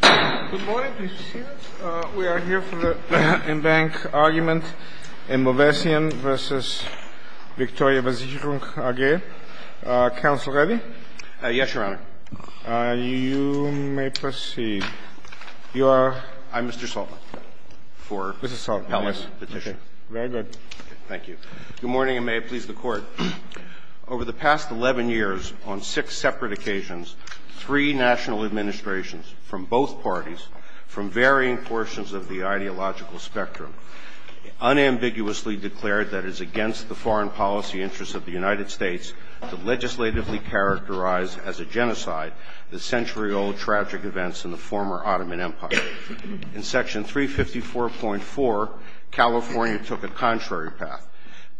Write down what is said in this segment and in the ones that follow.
Good morning, please be seated. We are here for the in-bank argument in Movessian v. Victoria Versicherung AG. Counsel ready? Yes, Your Honor. You may proceed. I'm Mr. Saltman. Mr. Saltman, yes. Very good. Thank you. Good morning, and may it please the Court. Over the past 11 years, on six separate occasions, three national administrations from both parties, from varying portions of the ideological spectrum, unambiguously declared that it is against the foreign policy interests of the United States to legislatively characterize as a genocide the century-old tragic events in the former Ottoman Empire. In Section 354.4, California took a contrary path,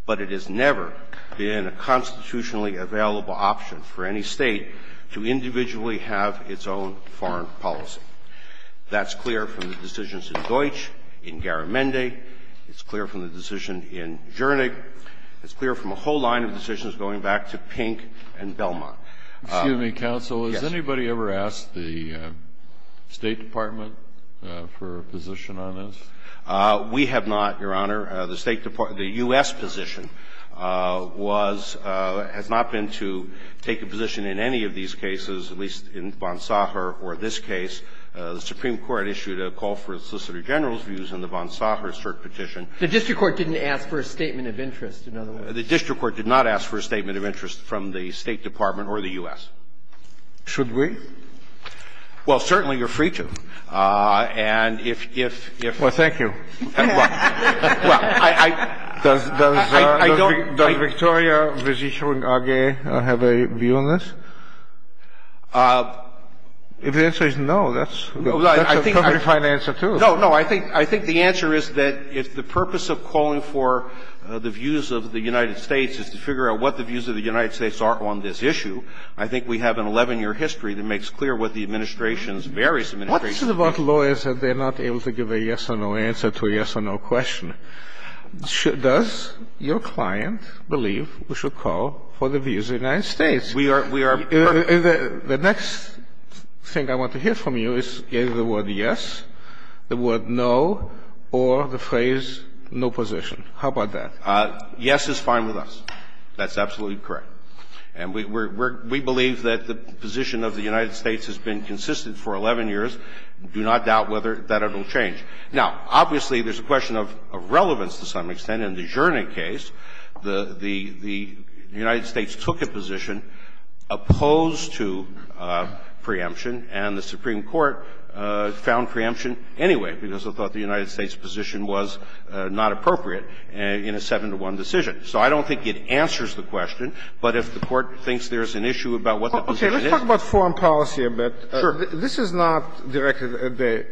but it has never been a constitutionally available option for any State to individually have its own foreign policy. That's clear from the decisions in Deutsch, in Garamendi. It's clear from the decision in Zschernig. It's clear from a whole line of decisions going back to Pink and Belmont. Excuse me, counsel. Yes. Has anybody ever asked the State Department for a position on this? We have not, Your Honor. The State Department – the U.S. position was – has not been to take a position in any of these cases, at least in Bonsagher or this case. The Supreme Court issued a call for Solicitor General's views in the Bonsagher cert petition. The district court didn't ask for a statement of interest, in other words. The district court did not ask for a statement of interest from the State Department or the U.S. Should we? Well, certainly, you're free to. And if – if – if – Well, thank you. Well, I – I – I don't – Does – does Victoria Versicherung AG have a view on this? If the answer is no, that's – that's a perfectly fine answer, too. No, no. I think – I think the answer is that if the purpose of calling for the views of the United States is to figure out what the views of the United States are on this issue, I think we have an 11-year history that makes clear what the administration's various administrations view. What is it about lawyers that they're not able to give a yes or no answer to a yes or no question? Does your client believe we should call for the views of the United States? We are – we are – The next thing I want to hear from you is either the word yes, the word no, or the phrase no position. How about that? Yes is fine with us. That's absolutely correct. And we – we're – we believe that the position of the United States has been consistent for 11 years. Do not doubt whether that will change. Now, obviously, there's a question of relevance to some extent. In the Gernot case, the – the – the United States took a position opposed to preemption, and the Supreme Court found preemption anyway because it thought the United States position was not appropriate in a 7-to-1 decision. So I don't think it answers the question. But if the Court thinks there's an issue about what the position is – Okay. Let's talk about foreign policy a bit. Sure. This is not directed at the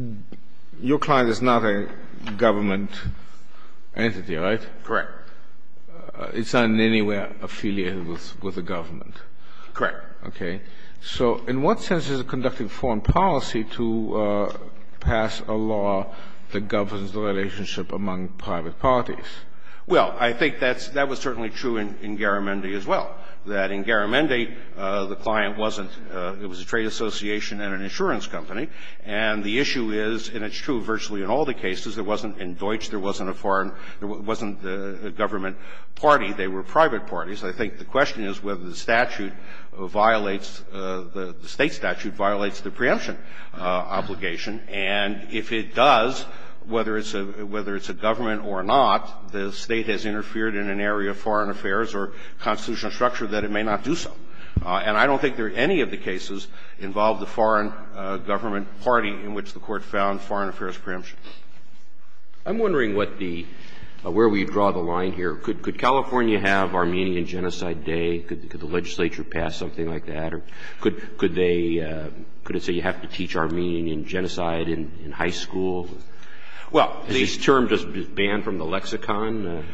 – your client is not a government entity, right? Correct. It's not in any way affiliated with the government. Correct. Okay. So in what sense is it conducting foreign policy to pass a law that governs the relationship among private parties? Well, I think that's – that was certainly true in Garamendi as well, that in Garamendi, the client wasn't – it was a trade association and an insurance company. And the issue is, and it's true virtually in all the cases, there wasn't – in Deutsch, there wasn't a foreign – there wasn't a government party. They were private parties. I think the question is whether the statute violates – the State statute violates the preemption obligation. And if it does, whether it's a government or not, the State has interfered in an area of foreign affairs or constitutional structure that it may not do so. And I don't think there are any of the cases involved the foreign government party in which the Court found foreign affairs preemption. I'm wondering what the – where we draw the line here. Could California have Armenian Genocide Day? Could the legislature pass something like that? Or could they – could it say you have to teach Armenian Genocide in high school? Well, the – Is this term just banned from the lexicon?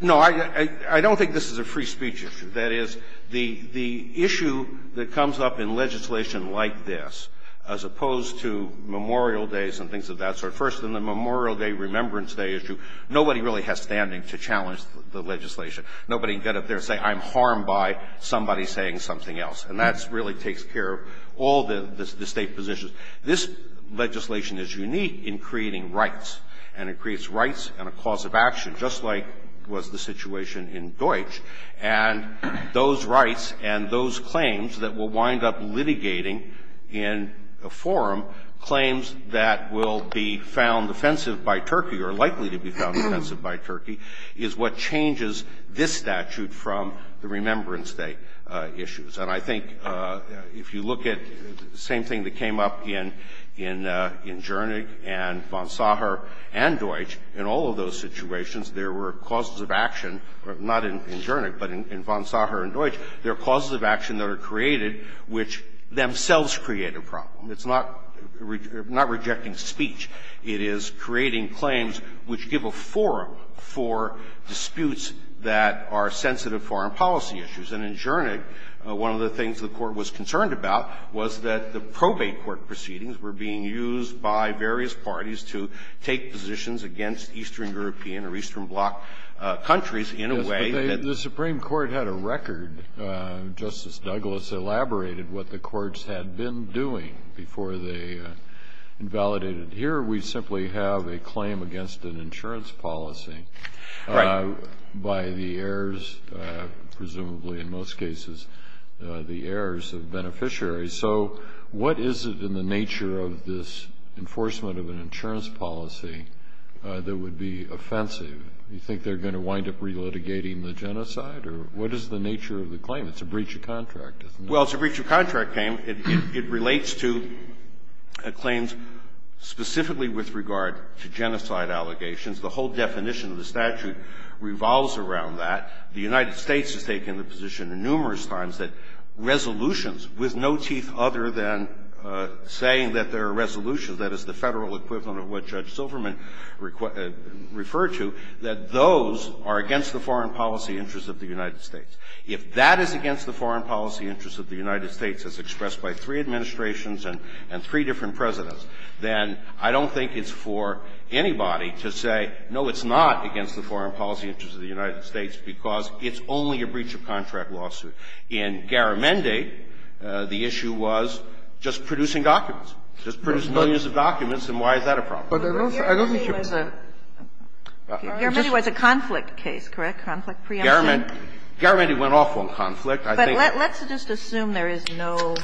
No. I don't think this is a free speech issue. That is, the issue that comes up in legislation like this, as opposed to Memorial Days and things of that sort, first in the Memorial Day, Remembrance Day issue, nobody really has standing to challenge the legislation. Nobody can get up there and say I'm harmed by somebody saying something else. And that really takes care of all the State positions. This legislation is unique in creating rights, and it creates rights and a cause of action, just like was the situation in Deutsch. And those rights and those claims that will wind up litigating in a forum, claims that will be found offensive by Turkey or likely to be found offensive by Turkey, is what changes this statute from the Remembrance Day issues. And I think if you look at the same thing that came up in Jernig and von Sacher and Deutsch, in all of those situations, there were causes of action, not in Jernig, but in von Sacher and Deutsch. There are causes of action that are created which themselves create a problem. It's not rejecting speech. It is creating claims which give a forum for disputes that are sensitive foreign policy issues. And in Jernig, one of the things the Court was concerned about was that the probate court proceedings were being used by various parties to take positions against Eastern European or Eastern Bloc countries in a way that they didn't. Kennedy. The Supreme Court had a record. Justice Douglas elaborated what the courts had been doing before they invalidated We simply have a claim against an insurance policy. Right. by the heirs, presumably in most cases, the heirs of beneficiaries. So what is it in the nature of this enforcement of an insurance policy that would be offensive? You think they're going to wind up relitigating the genocide? Or what is the nature of the claim? It's a breach of contract, isn't it? Well, it's a breach of contract claim. It relates to claims specifically with regard to genocide allegations. The whole definition of the statute revolves around that. The United States has taken the position numerous times that resolutions with no teeth other than saying that there are resolutions, that is the Federal equivalent of what Judge Silverman referred to, that those are against the foreign policy interests of the United States. If that is against the foreign policy interests of the United States as expressed by three administrations and three different presidents, then I don't think it's appropriate for anybody to say, no, it's not against the foreign policy interests of the United States because it's only a breach of contract lawsuit. In Garamendi, the issue was just producing documents, just producing millions of documents, and why is that a problem? Garamendi was a conflict case, correct? Conflict preemption? Garamendi went off on conflict. But let's just assume there is no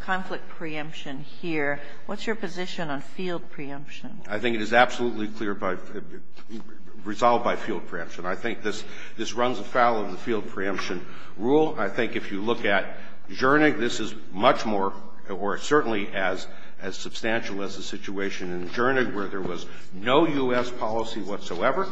conflict preemption here. What's your position on field preemption? I think it is absolutely clear by the resolve by field preemption. I think this runs afoul of the field preemption rule. I think if you look at Zschernig, this is much more, or certainly as substantial as the situation in Zschernig where there was no U.S. policy whatsoever,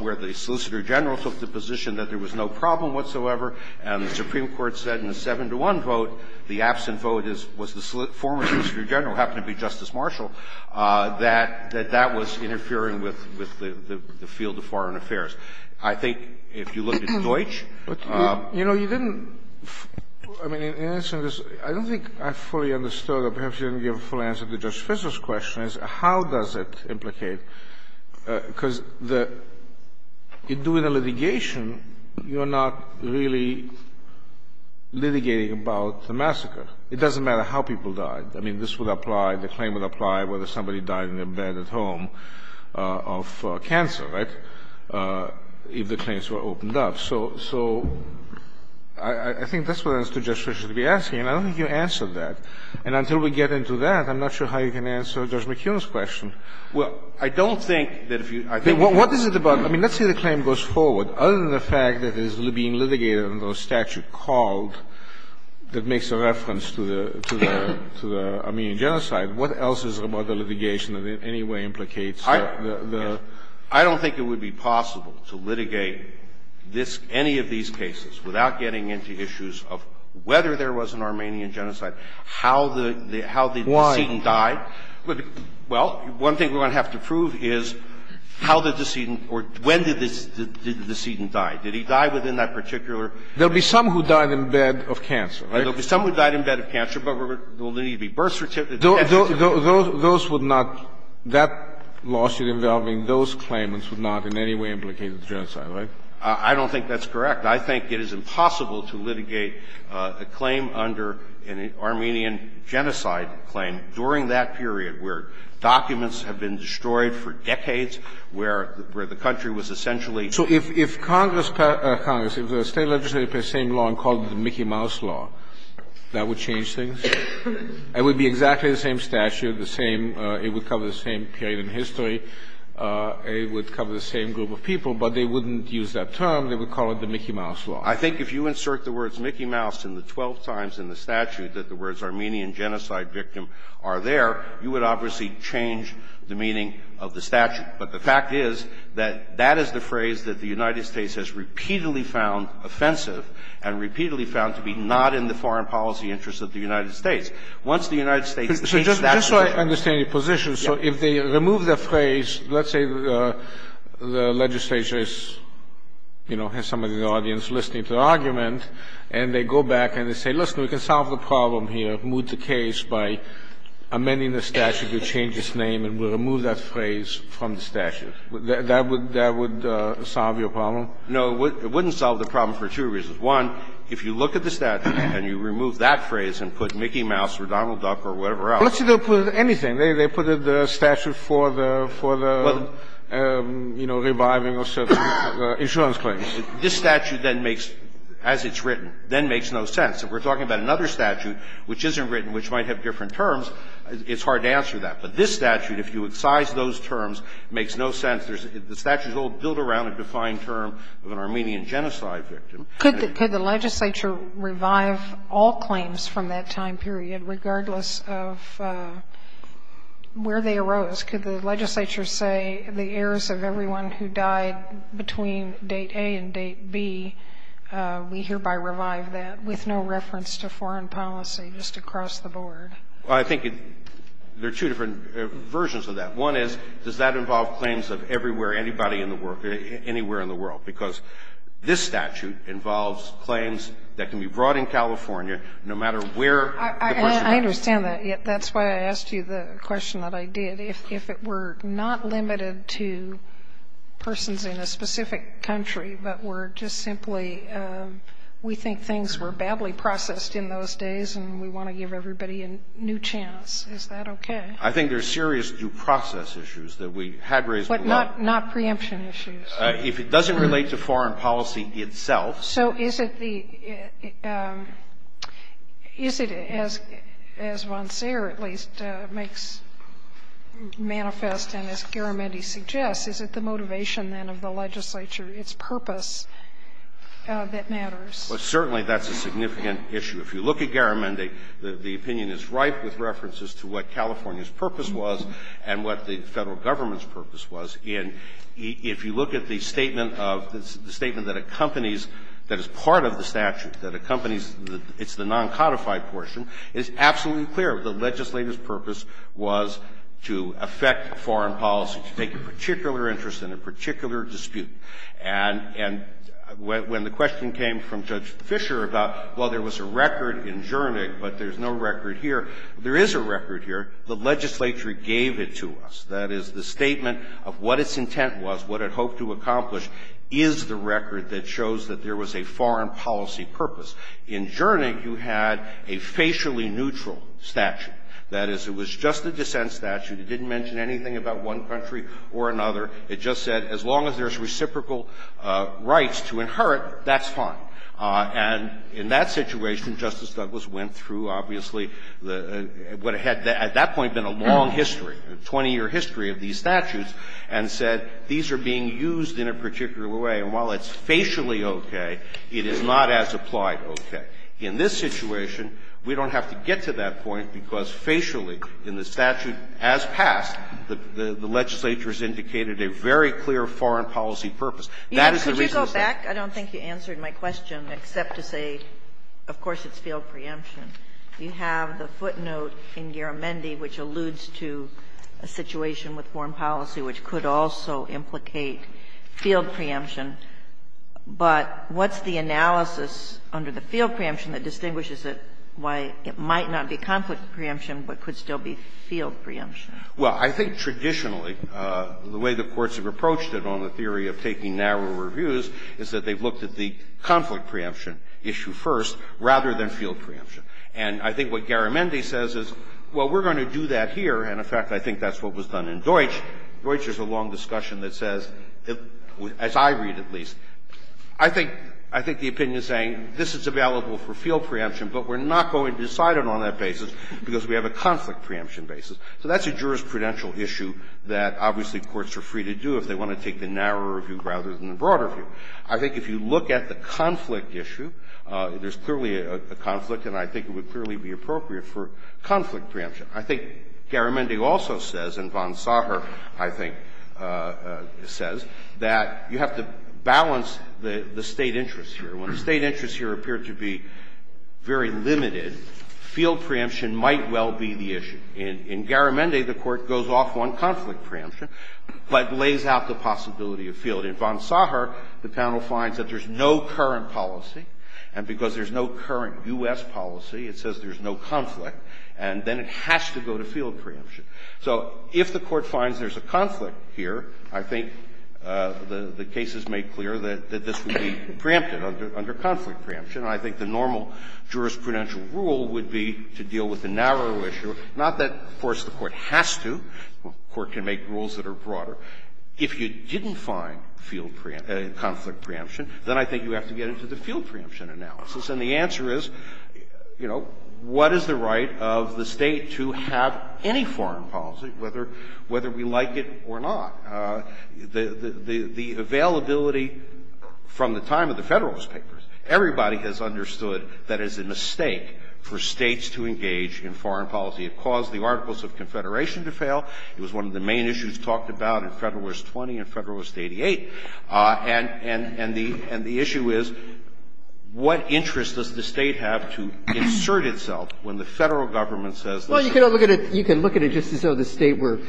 where the Solicitor General took the position that there was no problem whatsoever, and the Supreme Court said in the 7-to-1 vote, the absent vote was the former Solicitor General, happened to be Justice Marshall, that that was interfering with the field of foreign affairs. I think if you look at Deutsch. You know, you didn't – I mean, in answering this, I don't think I fully understood or perhaps you didn't give a full answer to Judge Fisser's question, is how does it implicate? Because the – in doing a litigation, you're not really litigating about the massacre. It doesn't matter how people died. I mean, this would apply, the claim would apply, whether somebody died in their bed at home of cancer, right, if the claims were opened up. So I think that's what I understood Judge Fisser to be asking, and I don't think you answered that. And until we get into that, I'm not sure how you can answer Judge McKeown's question. Well, I don't think that if you – I think you can. What is it about – I mean, let's say the claim goes forward. Other than the fact that it is being litigated under a statute called, that makes a reference to the Armenian genocide, what else is it about the litigation that in any way implicates the – the – I don't think it would be possible to litigate this – any of these cases without getting into issues of whether there was an Armenian genocide, how the – how the decedent died. Well, one thing we're going to have to prove is how the decedent – or when did the decedent die. Did he die within that particular – There will be some who died in bed of cancer, right? There will be some who died in bed of cancer, but there will need to be birth certificates and death certificates. Those would not – that lawsuit involving those claimants would not in any way implicate the genocide, right? I don't think that's correct. I think it is impossible to litigate a claim under an Armenian genocide claim during that period where documents have been destroyed for decades, where the country was essentially – So if Congress – Congress, if the State legislature passed the same law and called it the Mickey Mouse law, that would change things? It would be exactly the same statute, the same – it would cover the same period in history. It would cover the same group of people, but they wouldn't use that term. They would call it the Mickey Mouse law. I think if you insert the words Mickey Mouse in the 12 times in the statute that the words Armenian genocide victim are there, you would obviously change the meaning of the statute. But the fact is that that is the phrase that the United States has repeatedly found offensive and repeatedly found to be not in the foreign policy interests of the United States. Once the United States – Just so I understand your position, so if they remove the phrase, let's say the legislature is, you know, has some of the audience listening to the argument, and they go back and they say, listen, we can solve the problem here, move the case by amending the statute to change its name, and we'll remove that phrase from the statute, that would – that would solve your problem? No, it wouldn't solve the problem for two reasons. One, if you look at the statute and you remove that phrase and put Mickey Mouse or Donald Duck or whatever else – Well, let's say they'll put anything. They put the statute for the, you know, reviving of certain insurance claims. This statute then makes, as it's written, then makes no sense. If we're talking about another statute which isn't written, which might have different terms, it's hard to answer that. But this statute, if you excise those terms, makes no sense. The statute is all built around a defined term of an Armenian genocide victim. Could the legislature revive all claims from that time period, regardless of where they arose? Could the legislature say the heirs of everyone who died between date A and date B, we hereby revive that, with no reference to foreign policy, just across the board? Well, I think there are two different versions of that. One is, does that involve claims of everywhere, anybody in the world, anywhere in the world, because this statute involves claims that can be brought in California no matter where the question is. I understand that. That's why I asked you the question that I did. If it were not limited to persons in a specific country, but were just simply we think things were badly processed in those days and we want to give everybody a new chance, is that okay? I think there are serious due process issues that we had raised a lot. But not preemption issues. If it doesn't relate to foreign policy itself. So is it the – is it, as Vonceer at least makes manifest and as Garamendi suggests, is it the motivation then of the legislature, its purpose that matters? Well, certainly that's a significant issue. If you look at Garamendi, the opinion is ripe with references to what California's purpose was and what the Federal Government's purpose was. And if you look at the statement of – the statement that accompanies – that is part of the statute, that accompanies – it's the non-codified portion, it's absolutely clear the legislature's purpose was to affect foreign policy, to take a particular interest in a particular dispute. And when the question came from Judge Fisher about, well, there was a record in Zschernick, but there's no record here, there is a record here. The legislature gave it to us. That is, the statement of what its intent was, what it hoped to accomplish, is the record that shows that there was a foreign policy purpose. In Zschernick, you had a facially neutral statute. That is, it was just a dissent statute. It didn't mention anything about one country or another. It just said as long as there's reciprocal rights to inherit, that's fine. And in that situation, Justice Douglas went through, obviously, what had at that point been a long history, a 20-year history of these statutes, and said these are being used in a particular way, and while it's facially okay, it is not as applied okay. In this situation, we don't have to get to that point because facially, in the statute as passed, the legislature has indicated a very clear foreign policy purpose. That is the reason it's there. Kagan. Ginsburg. Yeah. Could you go back? I don't think you answered my question except to say, of course, it's field preemption. You have the footnote in Garamendi which alludes to a situation with foreign policy which could also implicate field preemption, but what's the analysis under the field preemption that distinguishes it, why it might not be conflict preemption, but could still be field preemption? Well, I think traditionally, the way the courts have approached it on the theory of taking narrower reviews is that they've looked at the conflict preemption issue first rather than field preemption. And I think what Garamendi says is, well, we're going to do that here, and in fact, I think that's what was done in Deutsch. Deutsch is a long discussion that says, as I read at least, I think the opinion is saying this is available for field preemption, but we're not going to decide it on that basis because we have a conflict preemption basis. So that's a jurisprudential issue that, obviously, courts are free to do if they want to take the narrower view rather than the broader view. I think if you look at the conflict issue, there's clearly a conflict, and I think it would clearly be appropriate for conflict preemption. I think Garamendi also says, and von Sacher, I think, says, that you have to balance the State interests here. When the State interests here appear to be very limited, field preemption might well be the issue. In Garamendi, the Court goes off on conflict preemption, but lays out the possibility of field. In von Sacher, the panel finds that there's no current policy, and because there's no current U.S. policy, it says there's no conflict, and then it has to go to field preemption. So if the Court finds there's a conflict here, I think the case is made clear that this would be preempted under conflict preemption. And I think the normal jurisprudential rule would be to deal with the narrow issue, not that, of course, the Court has to. The Court can make rules that are broader. If you didn't find field preemption, conflict preemption, then I think you have to get into the field preemption analysis. And the answer is, you know, what is the right of the State to have any foreign policy, whether we like it or not? The availability from the time of the Federalist Papers, everybody has understood that it's a mistake for States to engage in foreign policy. It caused the Articles of Confederation to fail. It was one of the main issues talked about in Federalist 20 and Federalist 88. And the issue is, what interest does the State have to insert itself when the Federal government says, listen. You can look at it, you can look at it just as though the State were,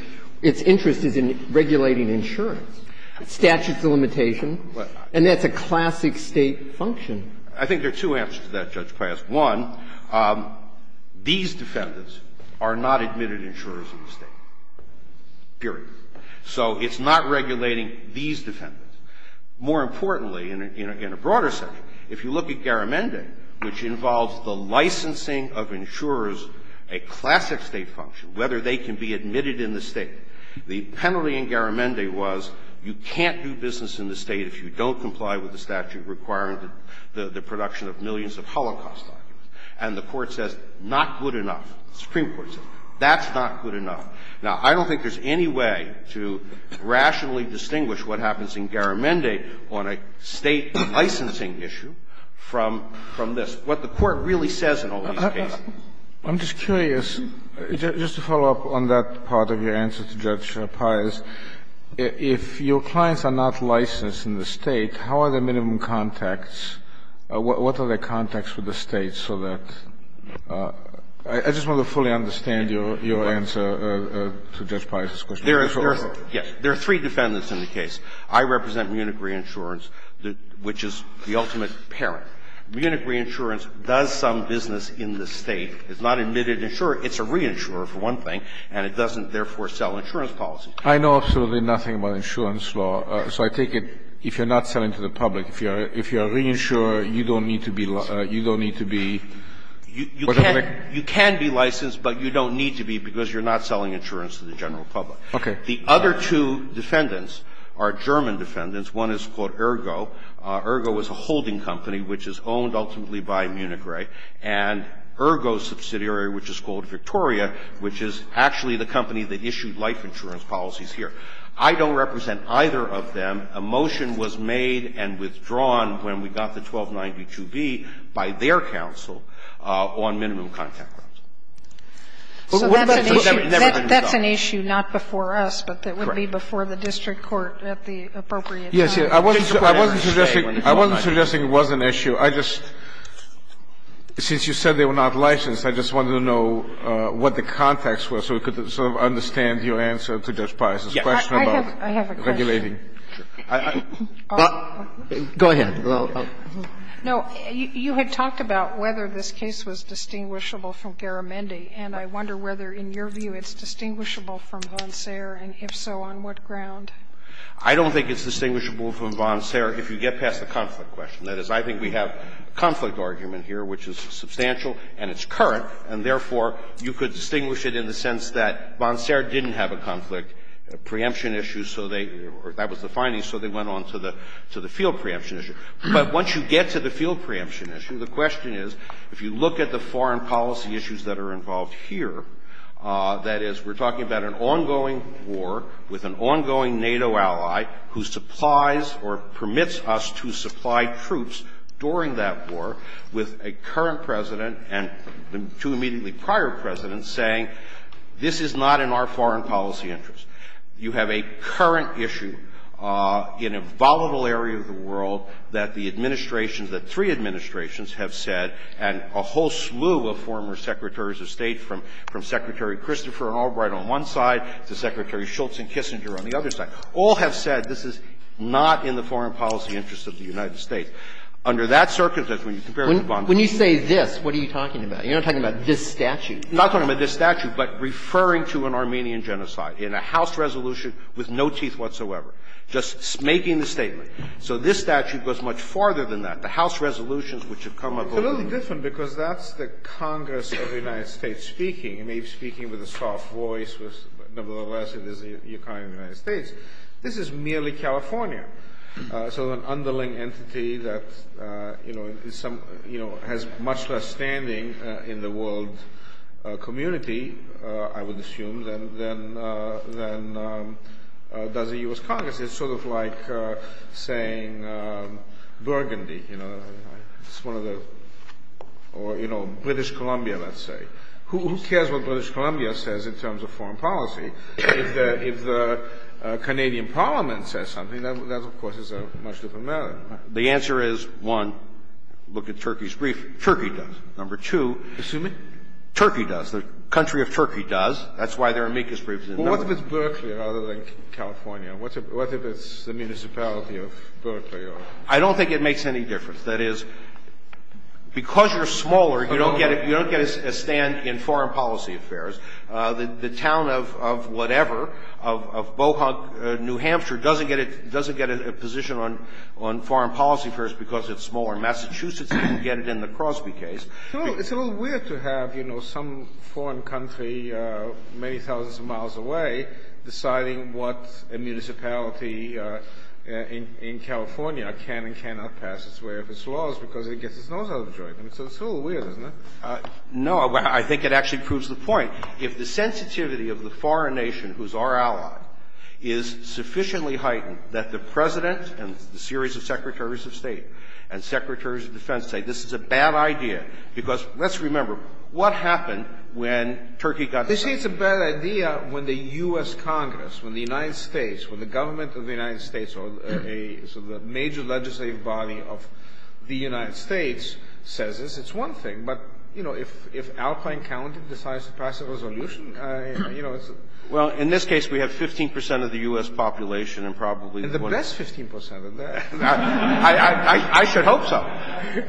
its interest is in regulating insurance. Statutes of limitation. And that's a classic State function. I think there are two answers to that, Judge Pius. One, these defendants are not admitted insurers in the State, period. So it's not regulating these defendants. More importantly, in a broader sense, if you look at Garamendi, which involves the licensing of insurers, a classic State function, whether they can be admitted in the State, the penalty in Garamendi was you can't do business in the State if you don't comply with the statute requiring the production of millions of Holocaust documents, and the Court says not good enough, the Supreme Court says that's not good enough. Now, I don't think there's any way to rationally distinguish what happens in Garamendi on a State licensing issue from this, what the Court really says in all these cases. I'm just curious, just to follow up on that part of your answer to Judge Pius, if your clients are not licensed in the State, how are the minimum contacts, what are the contacts with the State so that – I just want to fully understand your answer to Judge Pius's question. There are three defendants in the case. I represent Munich Reinsurance, which is the ultimate parent. Munich Reinsurance does some business in the State. It's not admitted insurer. It's a reinsurer, for one thing, and it doesn't, therefore, sell insurance policies. I know absolutely nothing about insurance law, so I take it if you're not selling to the public, if you're a reinsurer, you don't need to be licensed. You don't need to be. You can be licensed, but you don't need to be because you're not selling insurance to the general public. Okay. The other two defendants are German defendants. One is called Ergo. Ergo is a holding company which is owned ultimately by Munich Re and Ergo's subsidiary, which is called Victoria, which is actually the company that issued life insurance policies here. I don't represent either of them. A motion was made and withdrawn when we got the 1292b by their counsel on minimum contact grounds. What about the never-been-sold? It's an issue not before us, but it would be before the district court at the appropriate time. I wasn't suggesting it was an issue. I just, since you said they were not licensed, I just wanted to know what the context was so we could sort of understand your answer to Judge Pius' question about regulating. Go ahead. No, you had talked about whether this case was distinguishable from Garamendi, and I wonder whether, in your view, it's distinguishable from Bonserre, and if so, on what ground? I don't think it's distinguishable from Bonserre if you get past the conflict question. That is, I think we have a conflict argument here which is substantial and it's current, and therefore, you could distinguish it in the sense that Bonserre didn't have a conflict preemption issue, so they or that was the findings, so they went on to the field preemption issue. But once you get to the field preemption issue, the question is, if you look at the here, that is, we're talking about an ongoing war with an ongoing NATO ally who supplies or permits us to supply troops during that war with a current President and two immediately prior Presidents saying, this is not in our foreign policy interest. You have a current issue in a volatile area of the world that the administrations that three administrations have said, and a whole slew of former Secretaries of State from Secretary Christopher and Albright on one side to Secretary Schultz and Kissinger on the other side, all have said this is not in the foreign policy interest of the United States. Under that circumstance, when you compare it to Bonserre and Kissinger, it's not in the foreign policy interest of the United States. When you say this, what are you talking about? You're not talking about this statute. I'm not talking about this statute, but referring to an Armenian genocide in a House resolution with no teeth whatsoever, just making the statement. So this statute goes much farther than that. The House resolutions which have come up over the years. It's a little different because that's the Congress of the United States speaking. It may be speaking with a soft voice, but nevertheless, it is the economy of the United States. This is merely California, so an underling entity that, you know, is some – you know, has much less standing in the world community, I would assume, than does the U.S. Congress. It's sort of like saying Burgundy, you know, it's one of the – or, you know, British Columbia, let's say. Who cares what British Columbia says in terms of foreign policy? If the Canadian parliament says something, that, of course, is a much different matter. The answer is, one, look at Turkey's brief. Turkey does. Number two. Kennedy. Turkey does. The country of Turkey does. That's why their amicus brief is in the number. Kennedy. Well, what if it's Berkeley rather than California? What if it's the municipality of Berkeley or – I don't think it makes any difference. That is, because you're smaller, you don't get a stand in foreign policy affairs. The town of whatever, of Bohonk, New Hampshire, doesn't get a position on foreign policy affairs because it's smaller. Massachusetts doesn't get it in the Crosby case. It's a little weird to have, you know, some foreign country many thousands of miles away deciding what a municipality in California can and cannot pass its way of its laws because it gets its nose out of a joint. I mean, so it's a little weird, isn't it? No. I think it actually proves the point. If the sensitivity of the foreign nation, who's our ally, is sufficiently heightened that the president and the series of secretaries of state and secretaries of defense say this is a bad idea, because let's remember, what happened when Turkey got – They say it's a bad idea when the U.S. Congress, when the United States, when the government of the United States or a major legislative body of the United States says this, it's one thing. But, you know, if Alpine County decides to pass a resolution, you know, it's – Well, in this case, we have 15 percent of the U.S. population and probably the one – And the best 15 percent of that. I should hope so.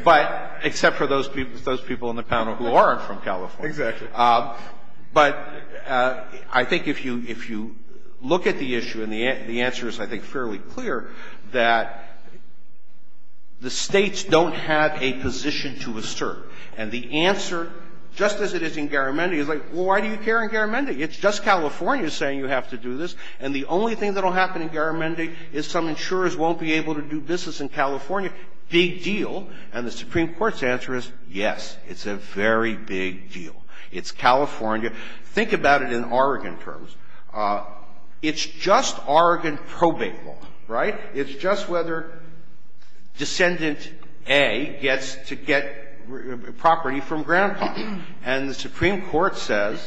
But except for those people in the panel who aren't from California. Exactly. But I think if you look at the issue, and the answer is, I think, fairly clear, that the States don't have a position to assert. And the answer, just as it is in Garamendi, is like, well, why do you care in Garamendi? It's just California saying you have to do this, and the only thing that will happen in Garamendi is some insurers won't be able to do business in California. Big deal. And the Supreme Court's answer is, yes, it's a very big deal. It's California. Think about it in Oregon terms. It's just Oregon probate law, right? It's just whether Descendant A gets to get property from Grandpa. And the Supreme Court says,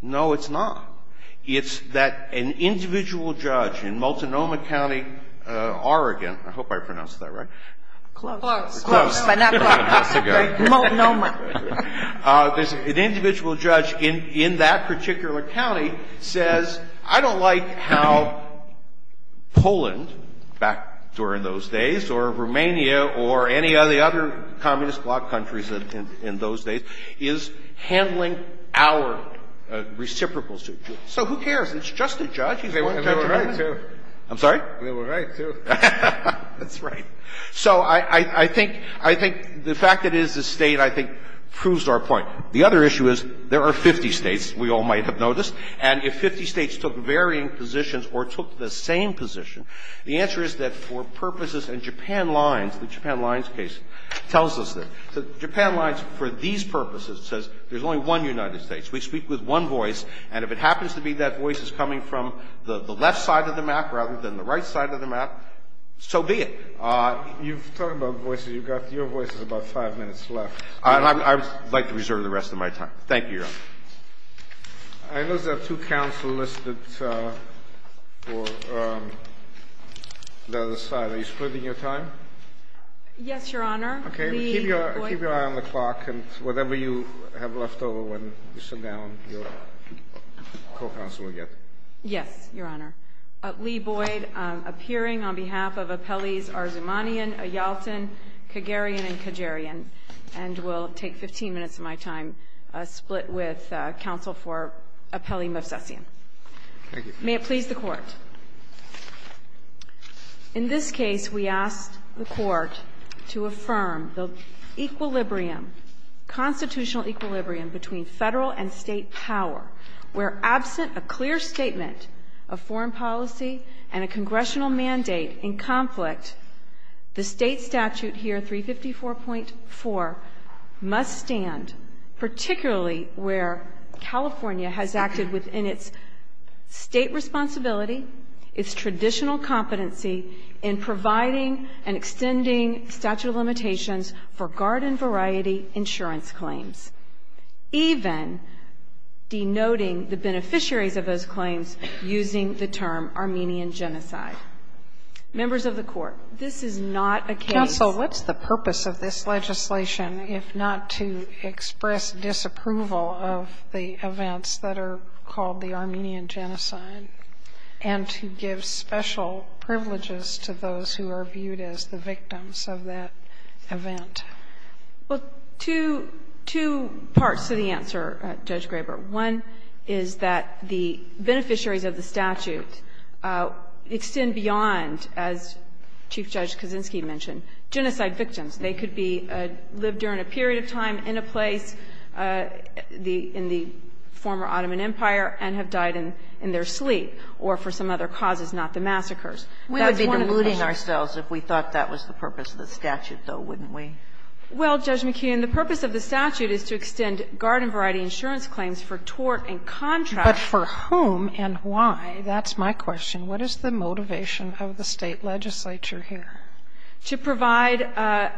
no, it's not. It's that an individual judge in Multnomah County, Oregon – I hope I pronounced that right. Close. Close, but not close. Multnomah. There's an individual judge in that particular county says, I don't like how Poland back during those days, or Romania, or any of the other communist bloc countries in those days, is handling our reciprocal suit. So who cares? It's just a judge. He's going to judge a judge. I'm sorry? We were right, too. That's right. So I think the fact that it is a State, I think, proves our point. The other issue is there are 50 States, we all might have noticed, and if 50 States took varying positions or took the same position, the answer is that for purposes and Japan lines, the Japan lines case tells us that. The Japan lines for these purposes says there's only one United States. We speak with one voice, and if it happens to be that voice is coming from the left side of the map rather than the right side of the map, so be it. You've talked about voices. You've got your voices about five minutes left. I would like to reserve the rest of my time. Thank you, Your Honor. I notice there are two counsel listed for the other side. Are you splitting your time? Yes, Your Honor. OK, keep your eye on the clock, and whatever you have left over when you sit down, your co-counsel will get. Yes, Your Honor. Lee Boyd, appearing on behalf of appellees Arzumanian, Ayolton, Kagerian, and Kagerian. And we'll take 15 minutes of my time split with counsel for appellee Movsesian. May it please the Court. In this case, we asked the Court to affirm the equilibrium, constitutional equilibrium between Federal and State power, where absent a clear statement of foreign policy and a congressional mandate in conflict, the state statute here, 354.4, must stand, particularly where California has acted within its state responsibility, its traditional competency in providing and extending statute of limitations for garden variety insurance claims, even denoting the beneficiaries of those claims using the term Armenian genocide. Members of the Court, this is not a case. Counsel, what's the purpose of this legislation if not to express disapproval of the events that are called the Armenian genocide, and to give special privileges to those who are viewed as the victims of that event? Well, two parts to the answer, Judge Graber. One is that the beneficiaries of the statute extend beyond, as Chief Judge Kaczynski mentioned, genocide victims. They could be lived during a period of time in a place, in the former Ottoman Empire, and have died in their sleep, or for some other causes, not the massacres. That's one of the issues. We would be deluding ourselves if we thought that was the purpose of the statute, though, wouldn't we? Well, Judge McKeon, the purpose of the statute is to extend garden variety insurance claims for tort and contract. But for whom and why? That's my question. What is the motivation of the State legislature here? To provide a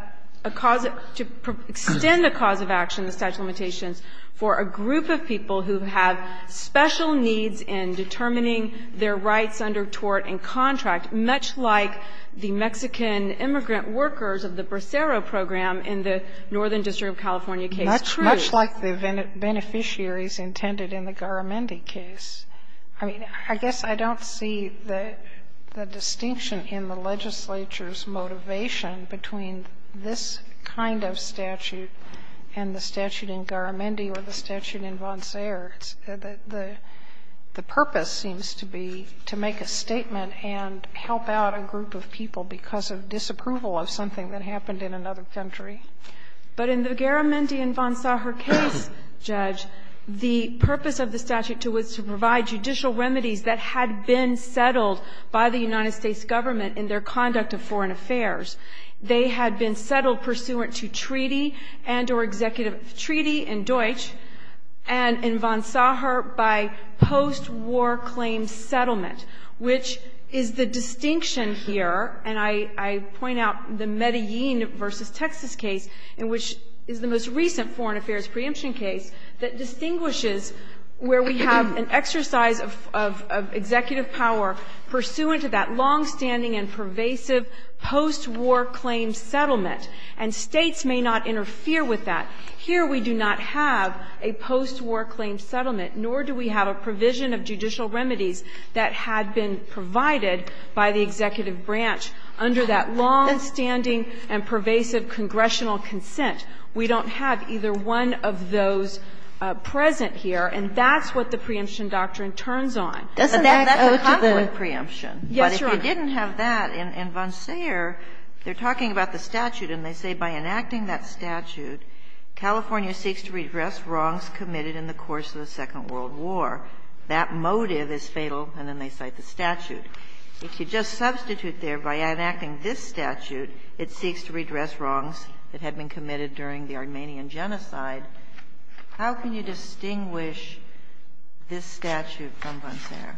cause of – to extend a cause of action, the statute of limitations, for a group of people who have special needs in determining their rights under tort and contract, much like the Mexican immigrant workers of the Bracero program in the Northern District of California case. That's much like the beneficiaries intended in the Garamendi case. I mean, I guess I don't see the distinction in the legislature's motivation between this kind of statute and the statute in Garamendi or the statute in Vonserre. The purpose seems to be to make a statement and help out a group of people because of disapproval of something that happened in another country. But in the Garamendi and Vonserre case, Judge, the purpose of the statute was to provide judicial remedies that had been settled by the United States government in their conduct of foreign affairs. They had been settled pursuant to treaty and or executive – treaty in Deutsch and in Vonserre by post-war claim settlement, which is the distinction here. And I point out the Medellin v. Texas case, which is the most recent foreign affairs preemption case, that distinguishes where we have an exercise of executive power pursuant to that longstanding and pervasive post-war claim settlement. And States may not interfere with that. Here we do not have a post-war claim settlement, nor do we have a provision of judicial remedies that had been provided by the executive branch under that longstanding and pervasive congressional consent. We don't have either one of those present here, and that's what the preemption doctrine turns on. But that's a conflict preemption. But if you didn't have that in Vonserre, they're talking about the statute, and they say by enacting that statute, California seeks to redress wrongs committed in the course of the Second World War. That motive is fatal, and then they cite the statute. If you just substitute there, by enacting this statute, it seeks to redress wrongs that had been committed during the Armenian Genocide. How can you distinguish this statute from Vonserre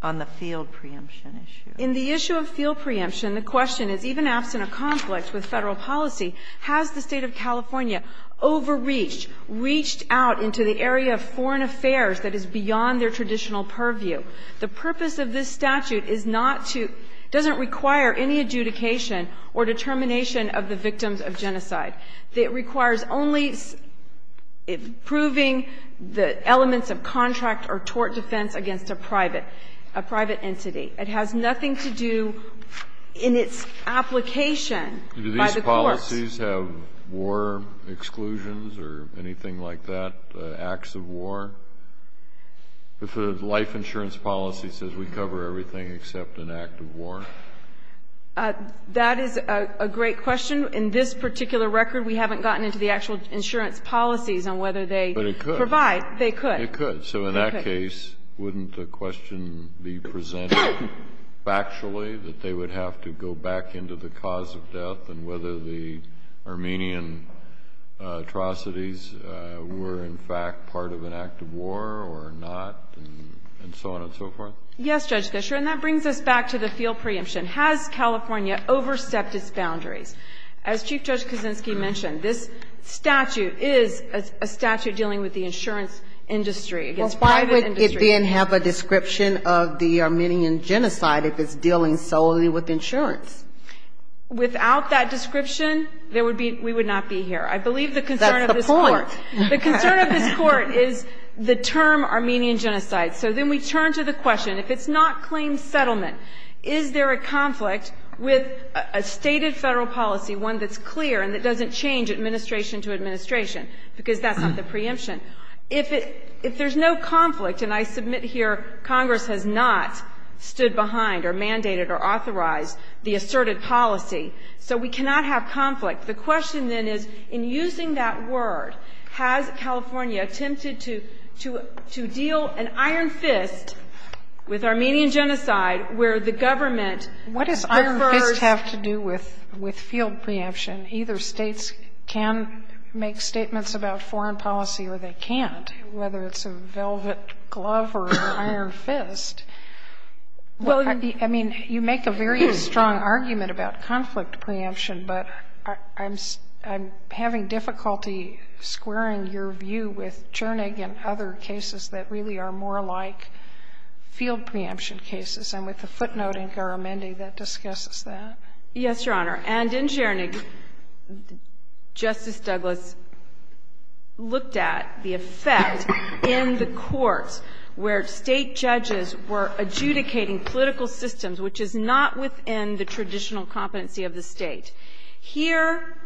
on the field preemption issue? In the issue of field preemption, the question is, even absent a conflict with Federal policy, has the State of California overreached, reached out into the area of foreign affairs that is beyond their traditional purview? The purpose of this statute is not to – doesn't require any adjudication or determination of the victims of genocide. It requires only proving the elements of contract or tort defense against a private – a private entity. It has nothing to do in its application by the courts. Kennedy, do these policies have war exclusions or anything like that, acts of war? If a life insurance policy says we cover everything except an act of war? That is a great question. In this particular record, we haven't gotten into the actual insurance policies on whether they provide. But it could. They could. It could. So in that case, wouldn't the question be presented factually, that they would have to go back into the cause of death and whether the Armenian atrocities were, in fact, part of an act of war or not, and so on and so forth? Yes, Judge Fischer. And that brings us back to the field preemption. Has California overstepped its boundaries? As Chief Judge Kaczynski mentioned, this statute is a statute dealing with the insurance industry, against private industry. Well, why would it then have a description of the Armenian genocide if it's dealing solely with insurance? Without that description, there would be – we would not be here. I believe the concern of this court – That's the point. The concern of this court is the term Armenian genocide. So then we turn to the question. If it's not claim settlement, is there a conflict with a stated Federal policy, one that's clear and that doesn't change administration to administration, because that's not the preemption. If it – if there's no conflict, and I submit here Congress has not stood behind or mandated or authorized the asserted policy, so we cannot have conflict. The question, then, is in using that word, has California attempted to deal an iron fist with Armenian genocide, where the government prefers – What does iron fist have to do with field preemption? Either States can make statements about foreign policy or they can't, whether it's a velvet glove or an iron fist. Well, I mean, you make a very strong argument about conflict preemption, but I'm having difficulty squaring your view with Chernig and other cases that really are more like field preemption cases. And with the footnote in Garamendi, that discusses that. Yes, Your Honor. And in Chernig, Justice Douglas looked at the effect in the courts where State judges were adjudicating political systems which is not within the traditional competency of the State. Here,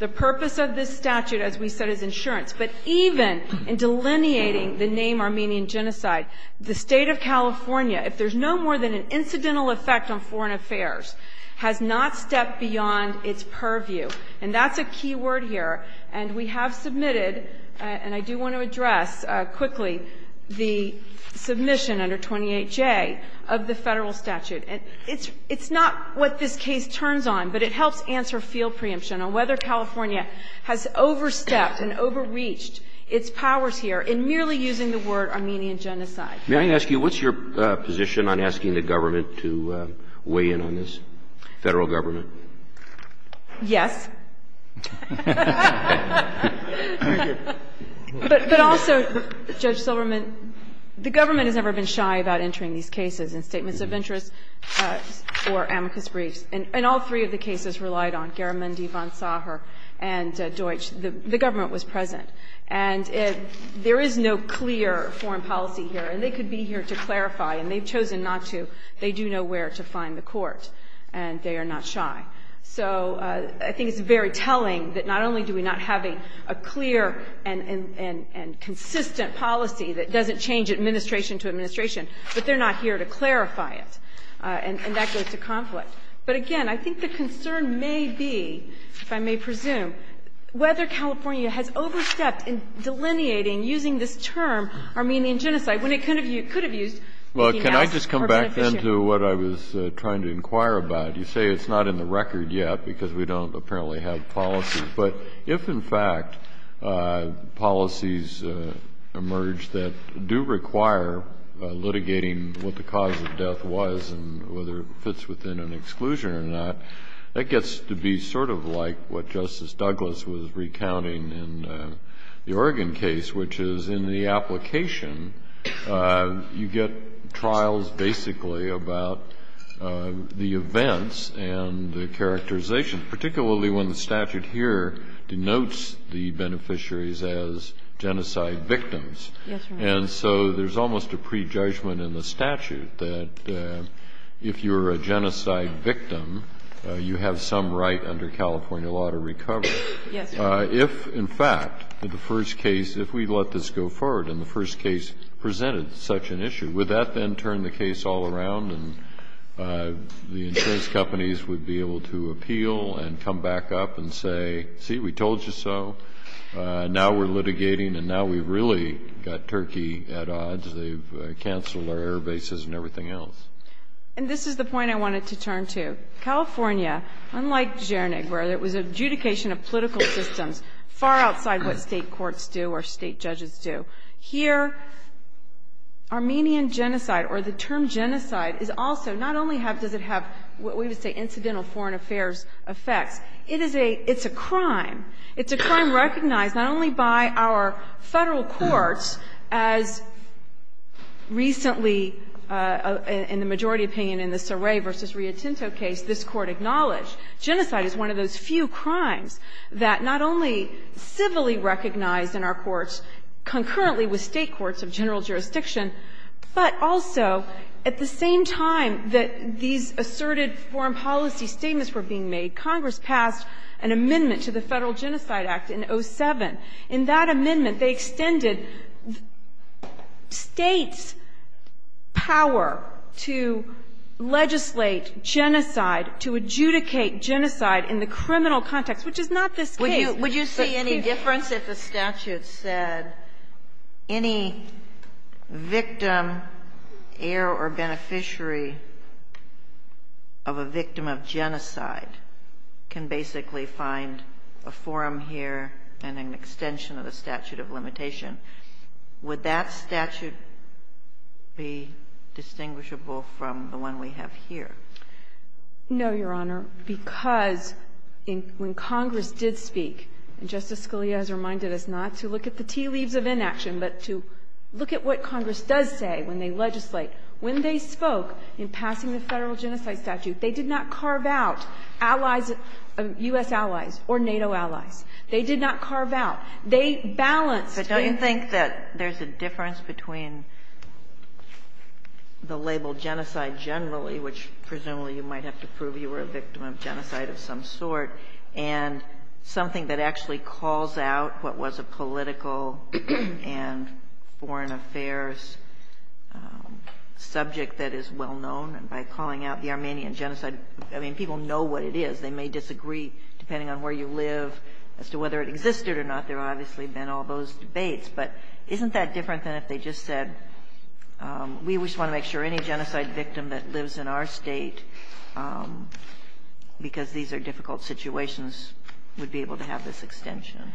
the purpose of this statute, as we said, is insurance. But even in delineating the name Armenian genocide, the State of California, if there's no more than an incidental effect on foreign affairs, has not stepped beyond its purview. And that's a key word here. And we have submitted – and I do want to address quickly the submission under 28J of the federal statute. And it's not what this case turns on, but it helps answer field preemption on whether or not the State of California has overstepped and overreached its powers here in merely using the word Armenian genocide. May I ask you, what's your position on asking the government to weigh in on this? Federal government? Yes. But also, Judge Silberman, the government has never been shy about entering these cases in statements of interest or amicus briefs. And all three of the cases relied on Garamendi, von Sacher, and Deutsch. The government was present. And there is no clear foreign policy here. And they could be here to clarify, and they've chosen not to. They do know where to find the court, and they are not shy. So I think it's very telling that not only do we not have a clear and consistent policy that doesn't change administration to administration, but they're not here to clarify it. And that goes to conflict. But again, I think the concern may be, if I may presume, whether California has overstepped in delineating, using this term, Armenian genocide, when it could have used female or beneficial. Well, can I just come back then to what I was trying to inquire about? You say it's not in the record yet because we don't apparently have policies. But if, in fact, policies emerge that do require litigating what the cause of death was and whether it fits within an exclusion or not, that gets to be sort of like what Justice Douglas was recounting in the Oregon case, which is in the application, you get trials basically about the events and the characterization, particularly when the statute here denotes the beneficiaries as genocide victims. Yes, Your Honor. And so there's almost a prejudgment in the statute that if you're a genocide victim, you have some right under California law to recover. Yes, Your Honor. If, in fact, in the first case, if we let this go forward and the first case presented such an issue, would that then turn the case all around and the insurance companies would be able to appeal and come back up and say, see, we told you so, now we're litigating, and now we've really got Turkey at odds. They've canceled our air bases and everything else. And this is the point I wanted to turn to. California, unlike Zschernig, where there was adjudication of political systems far outside what state courts do or state judges do, here Armenian genocide or the term genocide is also not only does it have what we would say It's a crime recognized not only by our Federal courts, as recently in the majority opinion in the Saray v. Rio Tinto case, this Court acknowledged. Genocide is one of those few crimes that not only civilly recognized in our courts concurrently with state courts of general jurisdiction, but also at the same time that these asserted foreign policy statements were being made, Congress passed an amendment to the Federal Genocide Act in 07. In that amendment, they extended states' power to legislate genocide, to adjudicate genocide in the criminal context, which is not this case. Would you see any difference if the statute said any victim, heir or beneficiary of a victim of genocide can basically find a forum here and an extension of the statute of limitation? Would that statute be distinguishable from the one we have here? No, Your Honor, because when Congress did speak, and Justice Scalia has reminded us not to look at the tea leaves of inaction, but to look at what Congress does say when they legislate, when they spoke in passing the Federal Genocide Statute, they did not carve out allies, U.S. allies or NATO allies. They did not carve out. They balanced their ---- But don't you think that there's a difference between the label genocide generally, which presumably you might have to prove you were a victim of genocide of some sort, and something that actually calls out what was a political and foreign affairs subject that is well known, and by calling out the Armenian Genocide? I mean, people know what it is. They may disagree, depending on where you live, as to whether it existed or not. There have obviously been all those debates. But isn't that different than if they just said, we just want to make sure any genocide victim that lives in our State, because these are difficult situations, would be able to have this extension?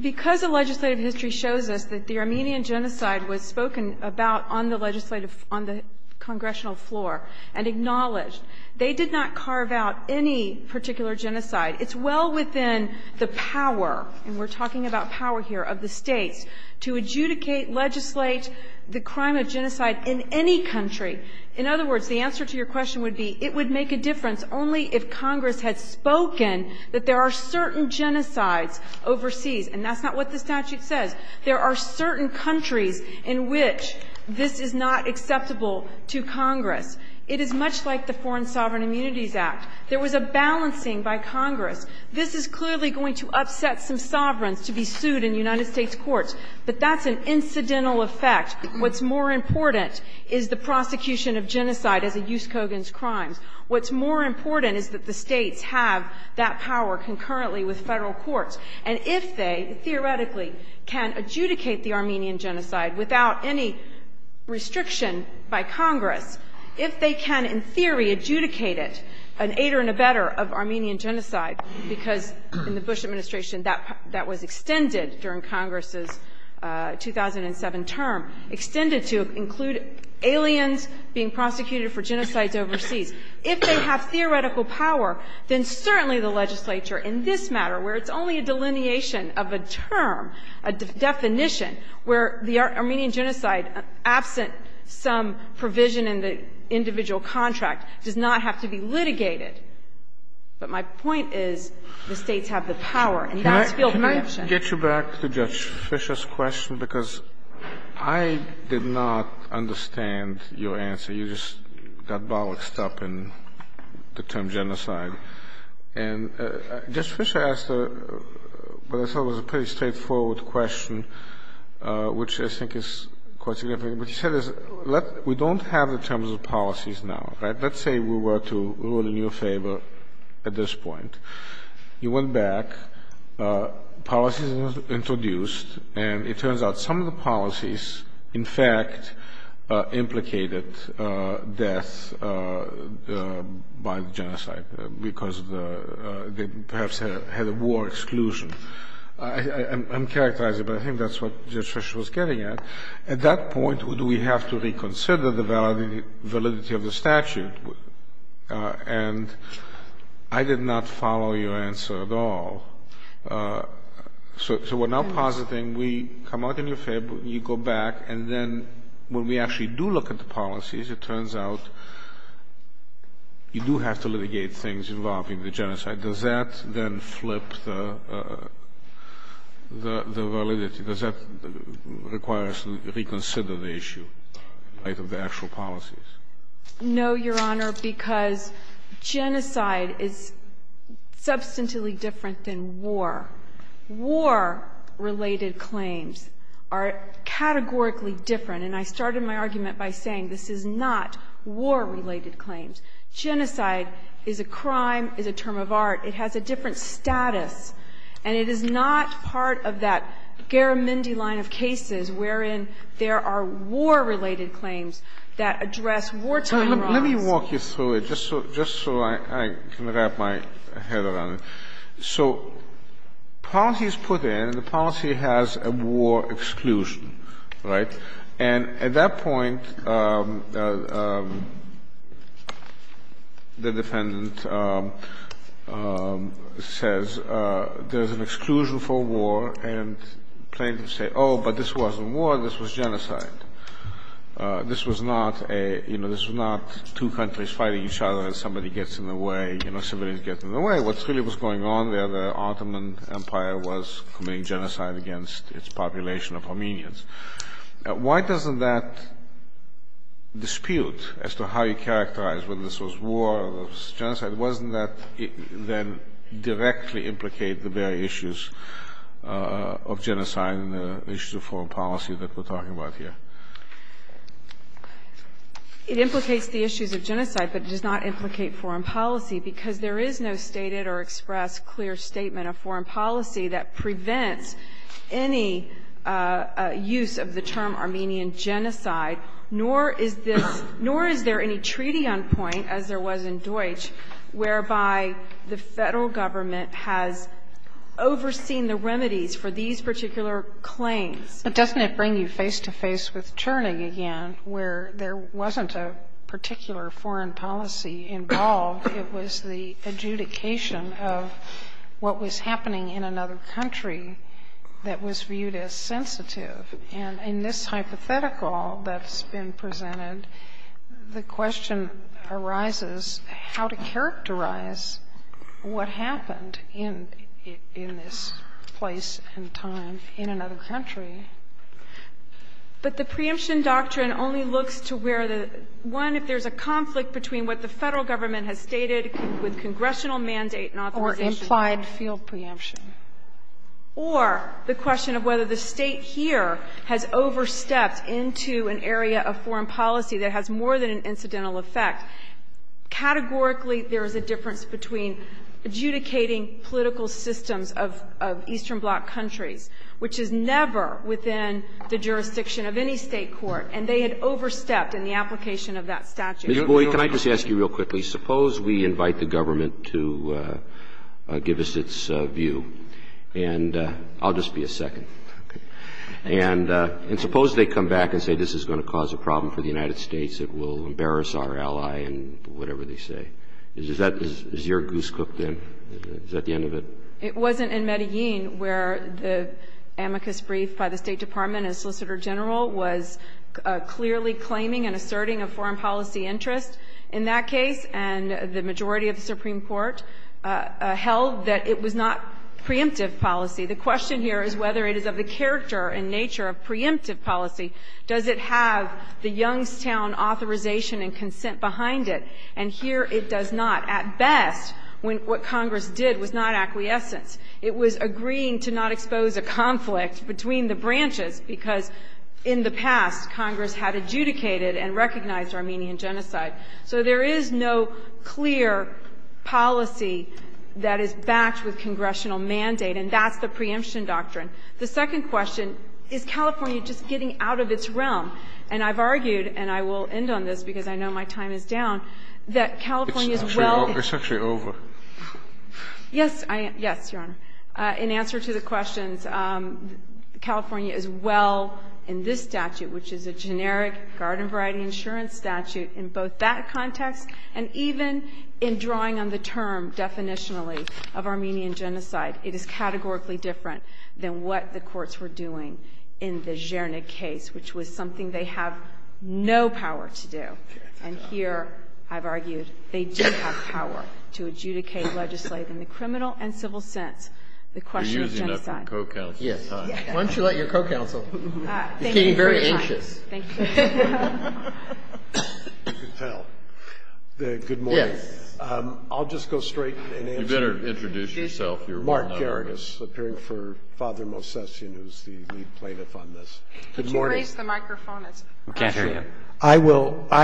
Because the legislative history shows us that the Armenian Genocide was spoken about on the legislative ---- on the congressional floor and acknowledged, they did not carve out any particular genocide. It's well within the power, and we're talking about power here, of the States to adjudicate, legislate the crime of genocide in any country. In other words, the answer to your question would be, it would make a difference only if Congress had spoken that there are certain genocides overseas. And that's not what the statute says. There are certain countries in which this is not acceptable to Congress. It is much like the Foreign Sovereign Immunities Act. There was a balancing by Congress. This is clearly going to upset some sovereigns to be sued in United States courts. But that's an incidental effect. What's more important is the prosecution of genocide as a use code against crimes. What's more important is that the States have that power concurrently with Federal courts. And if they, theoretically, can adjudicate the Armenian Genocide without any restriction by Congress, if they can, in theory, adjudicate it, an aider and abetter of Armenian Genocide, because in the Bush Administration that was extended during Congress's 2007 term, extended to include aliens being prosecuted for genocides overseas. If they have theoretical power, then certainly the legislature in this matter, where it's only a delineation of a term, a definition, where the Armenian Genocide, absent some provision in the individual contract, does not have to be litigated. But my point is the States have the power, and that's field reaction. Kennedy, can I get you back to Judge Fisher's question? Because I did not understand your answer. You just got bollocked up in the term genocide. And Judge Fisher asked what I thought was a pretty straightforward question, which I think is quite significant. What he said is, we don't have the terms of policies now, right? Let's say we were to rule in your favor at this point. You went back, policies introduced, and it turns out some of the policies, in fact, implicated death by genocide because they perhaps had a war exclusion. I'm characterizing, but I think that's what Judge Fisher was getting at. At that point, do we have to reconsider the validity of the statute? And I did not follow your answer at all. So we're now positing we come out in your favor, you go back, and then we have to When we actually do look at the policies, it turns out you do have to litigate things involving the genocide. Does that then flip the validity? Does that require us to reconsider the issue of the actual policies? No, Your Honor, because genocide is substantively different than war. War-related claims are categorically different. And I started my argument by saying this is not war-related claims. Genocide is a crime, is a term of art. It has a different status. And it is not part of that Garamendi line of cases wherein there are war-related claims that address wartime rights. Let me walk you through it just so I can wrap my head around it. So policies put in, the policy has a war exclusion, right? And at that point, the defendant says there's an exclusion for war, and plaintiffs say, oh, but this wasn't war, this was genocide. This was not two countries fighting each other and somebody gets in the way, civilians get in the way. What really was going on there, the Ottoman Empire was committing genocide against its population of Armenians. Why doesn't that dispute as to how you characterize whether this was war or genocide, why doesn't that then directly implicate the very issues of genocide and the issues of foreign policy that we're talking about here? It implicates the issues of genocide, but it does not implicate foreign policy because there is no stated or expressed clear statement of foreign policy that prevents any use of the term Armenian genocide, nor is there any treaty on point as there was in Deutsch whereby the Federal Government has overseen the remedies for these particular claims. But doesn't it bring you face-to-face with Churning again, where there wasn't a particular foreign policy involved, it was the adjudication of what was happening in another country that was viewed as sensitive. And in this hypothetical that's been presented, the question arises how to characterize what happened in this place and time in another country. But the preemption doctrine only looks to where the, one, if there's a conflict between what the Federal Government has stated with congressional mandate and authorization. Or implied field preemption. Or the question of whether the State here has overstepped into an area of foreign policy that has more than an incidental effect. Categorically, there is a difference between adjudicating political systems of Eastern Bloc countries, which is never within the jurisdiction of any State court, and they had overstepped in the application of that statute. Mr. Boyd, can I just ask you real quickly, suppose we invite the government to give us its view. And I'll just be a second. And suppose they come back and say this is going to cause a problem for the United States, it will embarrass our ally and whatever they say. Is that, is your goose cooked then? Is that the end of it? It wasn't in Medellin where the amicus brief by the State Department as Solicitor General was clearly claiming and asserting a foreign policy interest in that case. And the majority of the Supreme Court held that it was not preemptive policy. The question here is whether it is of the character and nature of preemptive policy. Does it have the Youngstown authorization and consent behind it? And here it does not. At best, what Congress did was not acquiescence. It was agreeing to not expose a conflict between the branches, because in the past Congress had adjudicated and recognized Armenian genocide. So there is no clear policy that is backed with congressional mandate, and that's the preemption doctrine. The second question, is California just getting out of its realm? And I've argued, and I will end on this because I know my time is down, that California is well- It's actually over. Yes, Your Honor. In answer to the questions, California is well in this statute, which is a generic garden variety insurance statute in both that context and even in drawing on the term definitionally of Armenian genocide. It is categorically different than what the courts were doing in the Zhernig case, which was something they have no power to do. And here, I've argued, they do have power to adjudicate, legislate in the criminal and civil sense the question of genocide. You're using that for co-counsel. Yes. Why don't you let your co-counsel- He's getting very anxious. Thank you. You can tell. Good morning. Yes. I'll just go straight and answer- You better introduce yourself. Mark Geragos, appearing for Father Mosesian, who's the lead plaintiff on this. Good morning. Could you raise the microphone? We can't hear you. I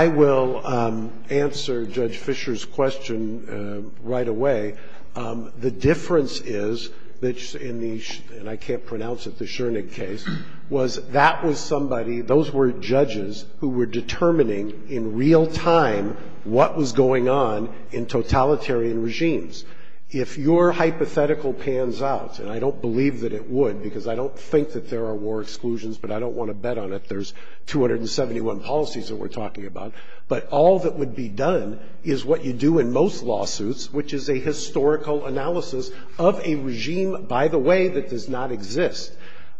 will answer Judge Fischer's question right away. The difference is that in the, and I can't pronounce it, the Zhernig case, was that was somebody, those were judges who were determining in real time what was going on in totalitarian regimes. If your hypothetical pans out, and I don't believe that it would because I don't think that there are war exclusions, but I don't want to bet on it, there's 271 policies that we're talking about. But all that would be done is what you do in most lawsuits, which is a historical analysis of a regime, by the way, that does not exist.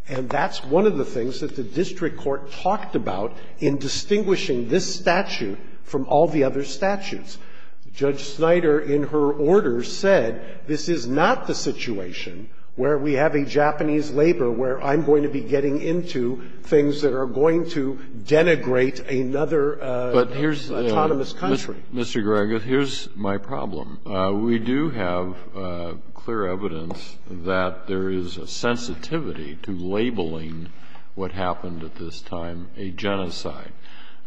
And that's one of the things that the district court talked about in distinguishing this statute from all the other statutes. Judge Snyder, in her order, said this is not the situation where we have a Japanese labor where I'm going to be getting into things that are going to denigrate another autonomous country. But here's the thing, Mr. Geragos, here's my problem. We do have clear evidence that there is a sensitivity to labeling what happened at this time a genocide.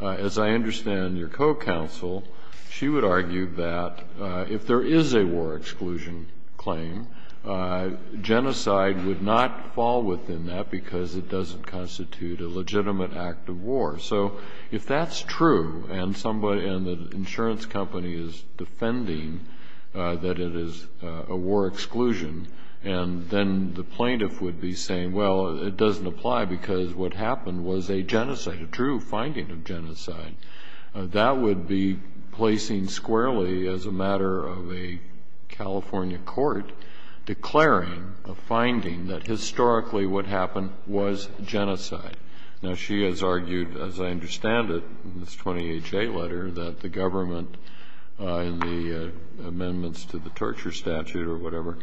As I understand your co-counsel, she would argue that if there is a war exclusion claim, genocide would not fall within that because it doesn't constitute a legitimate act of war. So if that's true and the insurance company is defending that it is a war exclusion, and then the plaintiff would be saying, well, it doesn't apply because what happened was a genocide, a true finding of genocide, that would be placing squarely as a matter of a California court declaring a finding that historically what happened was genocide. Now, she has argued, as I understand it, in this 20HA letter, that the government in the amendments to the torture statute or whatever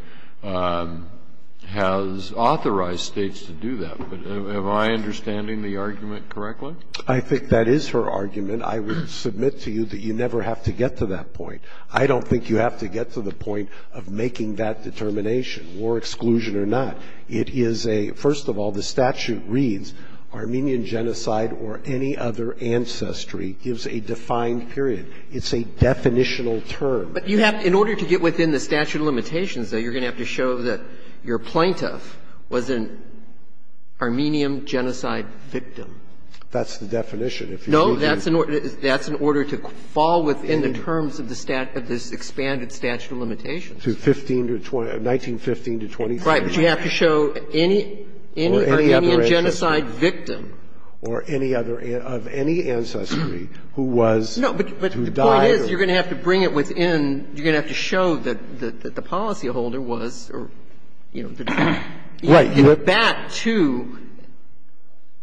has authorized states to do that. But am I understanding the argument correctly? I think that is her argument. I would submit to you that you never have to get to that point. I don't think you have to get to the point of making that determination, war exclusion or not. It is a — first of all, the statute reads, Armenian genocide or any other ancestry gives a defined period. It's a definitional term. But you have — in order to get within the statute of limitations, though, you're going to have to show that your plaintiff was an Armenian genocide victim. That's the definition. If you're looking at the statute of limitations. No, that's in order to fall within the terms of the statute of this expanded statute of limitations. To 1915 to 2013. Right. But you have to show any Armenian genocide victim. Or any other — of any ancestry who was — No, but the point is you're going to have to bring it within — you're going to have to show that the policyholder was, or, you know, the defendant. Right. You're back to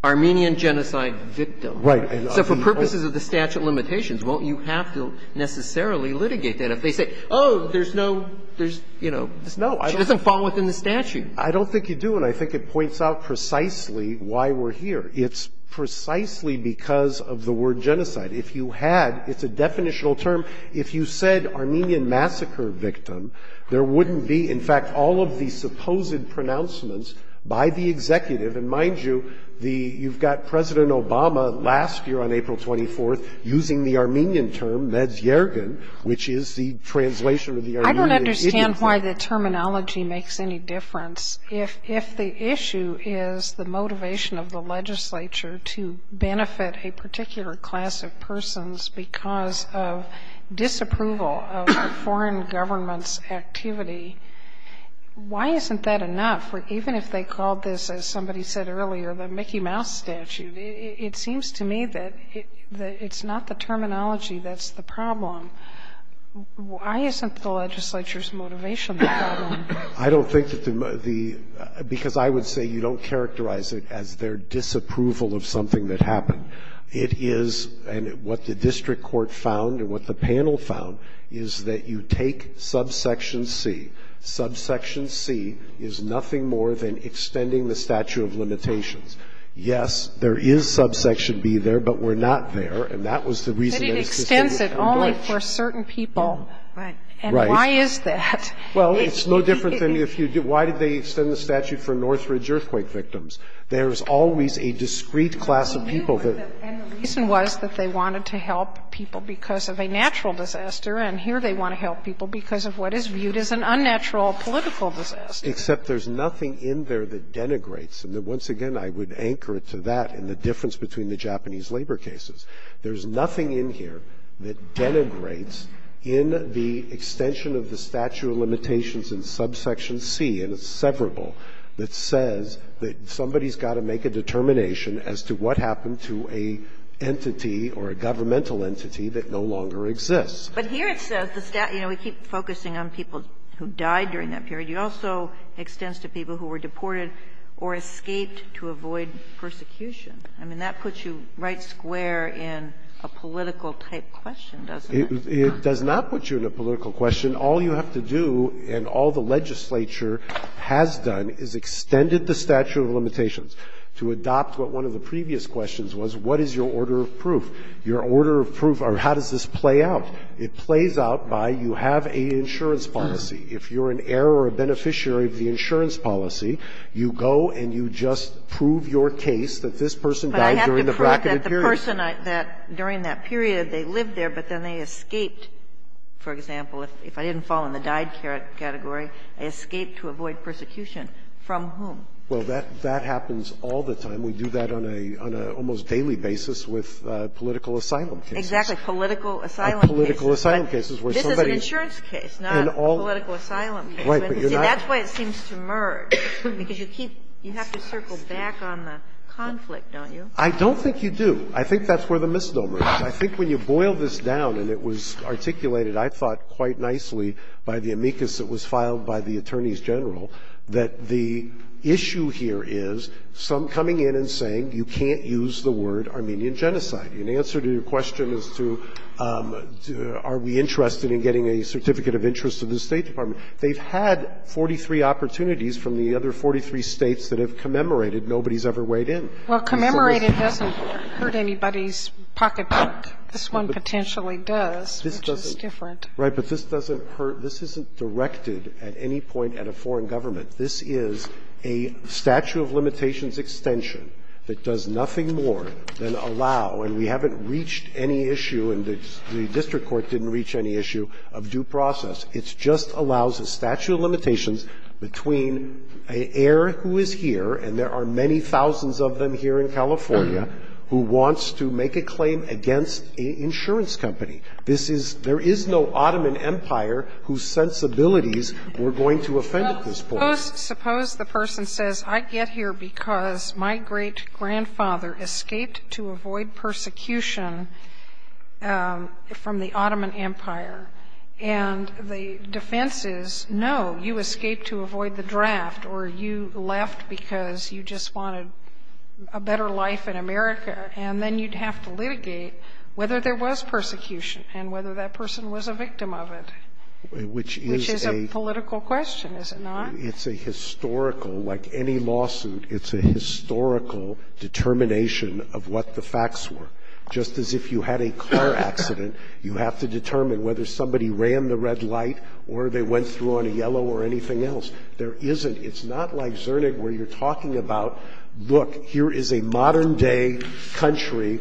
Armenian genocide victim. Right. So for purposes of the statute of limitations, won't you have to necessarily litigate that? If they say, oh, there's no — there's, you know, she doesn't fall within the statute. I don't think you do, and I think it points out precisely why we're here. It's precisely because of the word genocide. If you had — it's a definitional term. If you said Armenian massacre victim, there wouldn't be, in fact, all of the supposed pronouncements by the executive. And mind you, the — you've got President Obama last year on April 24th using the Armenian term, Medz Yergin, which is the translation of the Armenian — I don't understand why the terminology makes any difference. If the issue is the motivation of the legislature to benefit a particular class of persons because of disapproval of a foreign government's activity, why isn't that enough? Even if they called this, as somebody said earlier, the Mickey Mouse statute, it seems to me that it's not the terminology that's the problem. Why isn't the legislature's motivation the problem? I don't think that the — because I would say you don't characterize it as their disapproval of something that happened. It is — and what the district court found and what the panel found is that you take subsection C. Subsection C is nothing more than extending the statute of limitations. Yes, there is subsection B there, but we're not there. And that was the reason that it's — But it extends it only for certain people. Right. And why is that? Well, it's no different than if you — why did they extend the statute for Northridge earthquake victims? There is always a discrete class of people that — And the reason was that they wanted to help people because of a natural disaster, and here they want to help people because of what is viewed as an unnatural political disaster. Except there's nothing in there that denigrates. And once again, I would anchor it to that and the difference between the Japanese labor cases. There's nothing in here that denigrates in the extension of the statute of limitations in subsection C, and it's severable, that says that somebody's got to make a determination as to what happened to an entity or a governmental entity that no longer exists. But here it says the statute — you know, we keep focusing on people who died during that period. It also extends to people who were deported or escaped to avoid persecution. I mean, that puts you right square in a political-type question, doesn't it? It does not put you in a political question. All you have to do, and all the legislature has done, is extended the statute of limitations to adopt what one of the previous questions was, what is your order of proof? Your order of proof, or how does this play out? It plays out by you have an insurance policy. If you're an heir or a beneficiary of the insurance policy, you go and you just prove your case that this person died during the bracket of periods. If you're a person that, during that period, they lived there, but then they escaped, for example, if I didn't fall in the died category, I escaped to avoid persecution, from whom? Well, that happens all the time. We do that on a almost daily basis with political asylum cases. Exactly. Political asylum cases. Political asylum cases where somebody — This is an insurance case, not a political asylum case. Right. But you're not — See, that's why it seems to merge, because you keep — you have to circle back on the conflict, don't you? I don't think you do. I think that's where the misnomer is. I think when you boil this down, and it was articulated, I thought, quite nicely, by the amicus that was filed by the attorneys general, that the issue here is some coming in and saying you can't use the word Armenian genocide. And the answer to your question is to are we interested in getting a certificate of interest to the State Department. They've had 43 opportunities from the other 43 States that have commemorated. Nobody's ever weighed in. Well, commemorated doesn't hurt anybody's pocketbook. This one potentially does, which is different. Right. But this doesn't hurt — this isn't directed at any point at a foreign government. This is a statute of limitations extension that does nothing more than allow, and we haven't reached any issue, and the district court didn't reach any issue, of due process. It just allows a statute of limitations between an heir who is here, and there are many thousands of them here in California, who wants to make a claim against an insurance company. This is — there is no Ottoman Empire whose sensibilities we're going to offend at this point. Suppose the person says, I get here because my great-grandfather escaped to avoid persecution from the Ottoman Empire, and the defense is, no, you escaped to avoid the draft, or you left because you just wanted a better life in America, and then you'd have to litigate whether there was persecution and whether that person was a victim of it, which is a political question, is it not? It's a historical — like any lawsuit, it's a historical determination of what the facts were. Just as if you had a car accident, you have to determine whether somebody ran the red light or they went through on a yellow or anything else. There isn't. It's not like Zernig, where you're talking about, look, here is a modern-day country,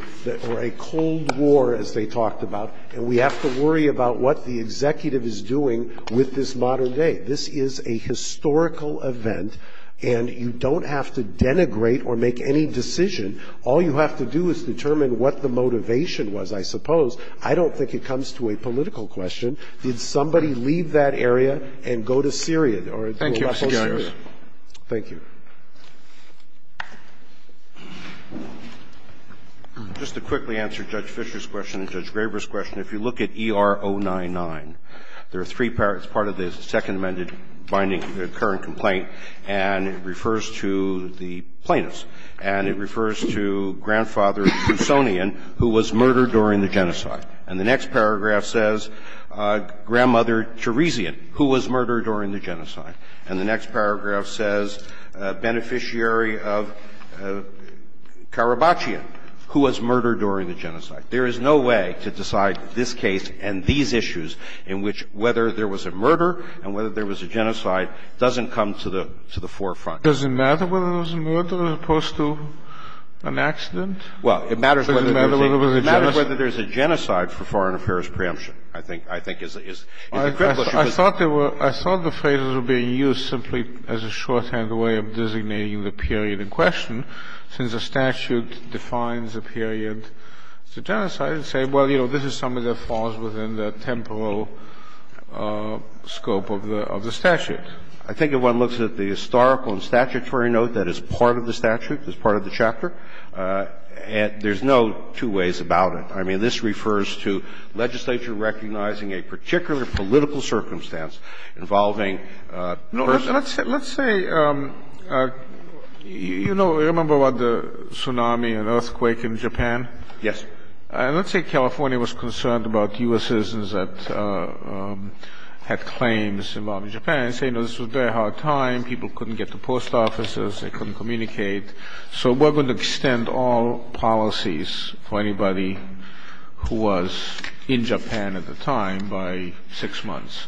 or a Cold War, as they talked about, and we have to worry about what the executive is doing with this modern day. This is a historical event, and you don't have to denigrate or make any decision. All you have to do is determine what the motivation was, I suppose. I don't think it comes to a political question. Did somebody leave that area and go to Syria? Thank you, Your Honor. Thank you. Just to quickly answer Judge Fischer's question and Judge Graber's question, if you look at ER-099, there are three parts. Part of it is the Second Amendment binding, the current complaint, and it refers to the plaintiffs, and it refers to Grandfather Tousonian, who was murdered during the genocide, and the next paragraph says Grandmother Tiresian, who was murdered during the genocide. And the next paragraph says Beneficiary of Karabachian, who was murdered during the genocide. There is no way to decide this case and these issues in which whether there was a murder and whether there was a genocide doesn't come to the forefront. Does it matter whether there was a murder as opposed to an accident? Well, it matters whether there was a genocide. It matters whether there was a genocide for foreign affairs preemption, I think, is the critical issue. I thought the phrases were being used simply as a shorthand way of designating the period in question, since the statute defines a period to genocide, and say, well, you know, this is something that falls within the temporal scope of the statute. I think if one looks at the historical and statutory note that is part of the statute, that's part of the chapter, there's no two ways about it. I mean, this refers to legislature recognizing a particular political circumstance involving a person. Let's say, you know, remember about the tsunami and earthquake in Japan? Yes. And let's say California was concerned about U.S. citizens that had claims involving Japan, and say, you know, this was a very hard time, people couldn't get to post offices, they couldn't communicate. So we're going to extend all policies for anybody who was in Japan at the time by six months,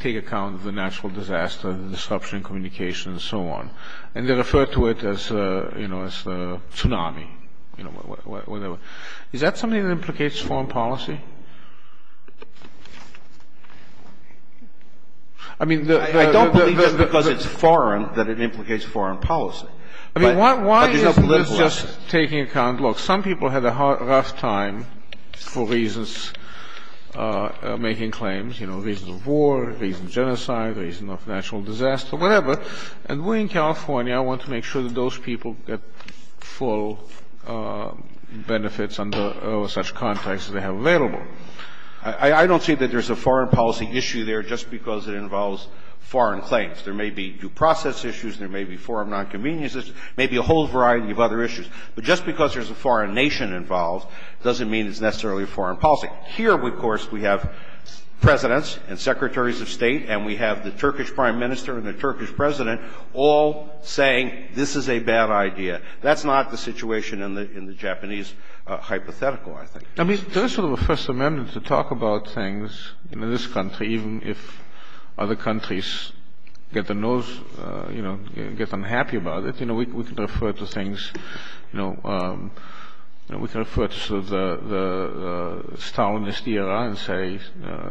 take account of the natural disaster, the disruption in communication, and so on, and then refer to it as, you know, as the tsunami. You know, whatever. Is that something that implicates foreign policy? I mean, the... I don't believe just because it's foreign that it implicates foreign policy. I mean, why isn't this just taking account? Look, some people had a rough time for reasons, making claims, you know, reasons of war, reasons of genocide, reasons of natural disaster, whatever. And we're in California. I want to make sure that those people get full benefits under all such contexts that they have available. I don't see that there's a foreign policy issue there just because it involves foreign claims. There may be due process issues, there may be foreign nonconveniences, maybe a whole variety of other issues. But just because there's a foreign nation involved doesn't mean it's necessarily foreign policy. Here, of course, we have Presidents and Secretaries of State and we have the Turkish Prime Minister and the Turkish President all saying this is a bad idea. That's not the situation in the Japanese hypothetical, I think. I mean, there's sort of a First Amendment to talk about things in this country even if other countries get the nose, you know, get unhappy about it. You know, we can refer to things, you know, we can refer to sort of the Stalinist era and say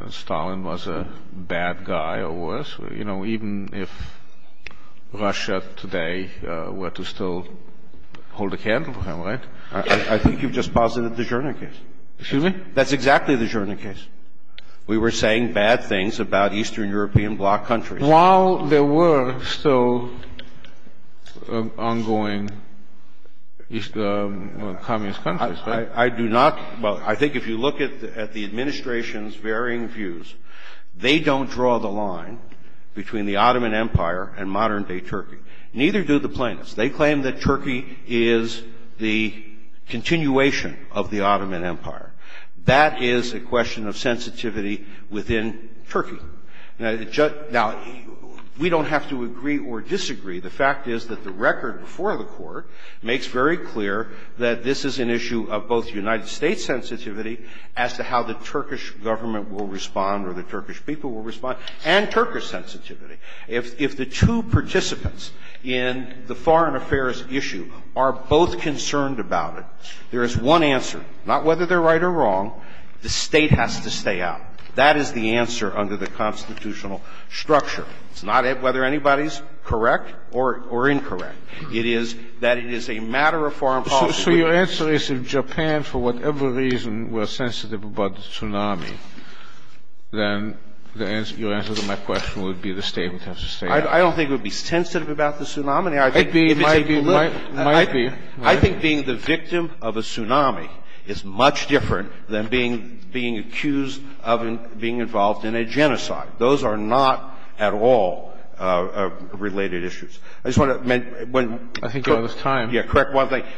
Stalin was a bad guy or worse. You know, even if Russia today were to still hold a candle to him, right? I think you've just posited the Jordan case. Excuse me? That's exactly the Jordan case. We were saying bad things about Eastern European bloc countries. While there were still ongoing communist countries, right? I do not – well, I think if you look at the administration's varying views, they don't draw the line between the Ottoman Empire and modern-day Turkey. Neither do the plaintiffs. They claim that Turkey is the continuation of the Ottoman Empire. That is a question of sensitivity within Turkey. Now, we don't have to agree or disagree. The fact is that the record before the court makes very clear that this is an issue of both United States sensitivity as to how the Turkish government will respond or the Turkish people will respond and Turkish sensitivity. If the two participants in the foreign affairs issue are both concerned about it, there is one answer, not whether they're right or wrong. The state has to stay out. That is the answer under the constitutional structure. It's not whether anybody's correct or incorrect. It is that it is a matter of foreign policy. So your answer is if Japan, for whatever reason, were sensitive about the tsunami, then your answer to my question would be the state would have to stay out. I don't think it would be sensitive about the tsunami. It might be. I think being the victim of a tsunami is much different than being accused of being involved in a genocide. Those are not at all related issues. I just want to – I think you're out of time. Yeah, correct.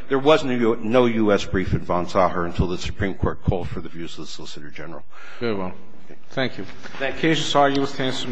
There was no U.S. brief in Van Zaaren until the Supreme Court called for the views of the Solicitor General. Very well. Thank you. Thank you. Excuse us, Mr. Roger.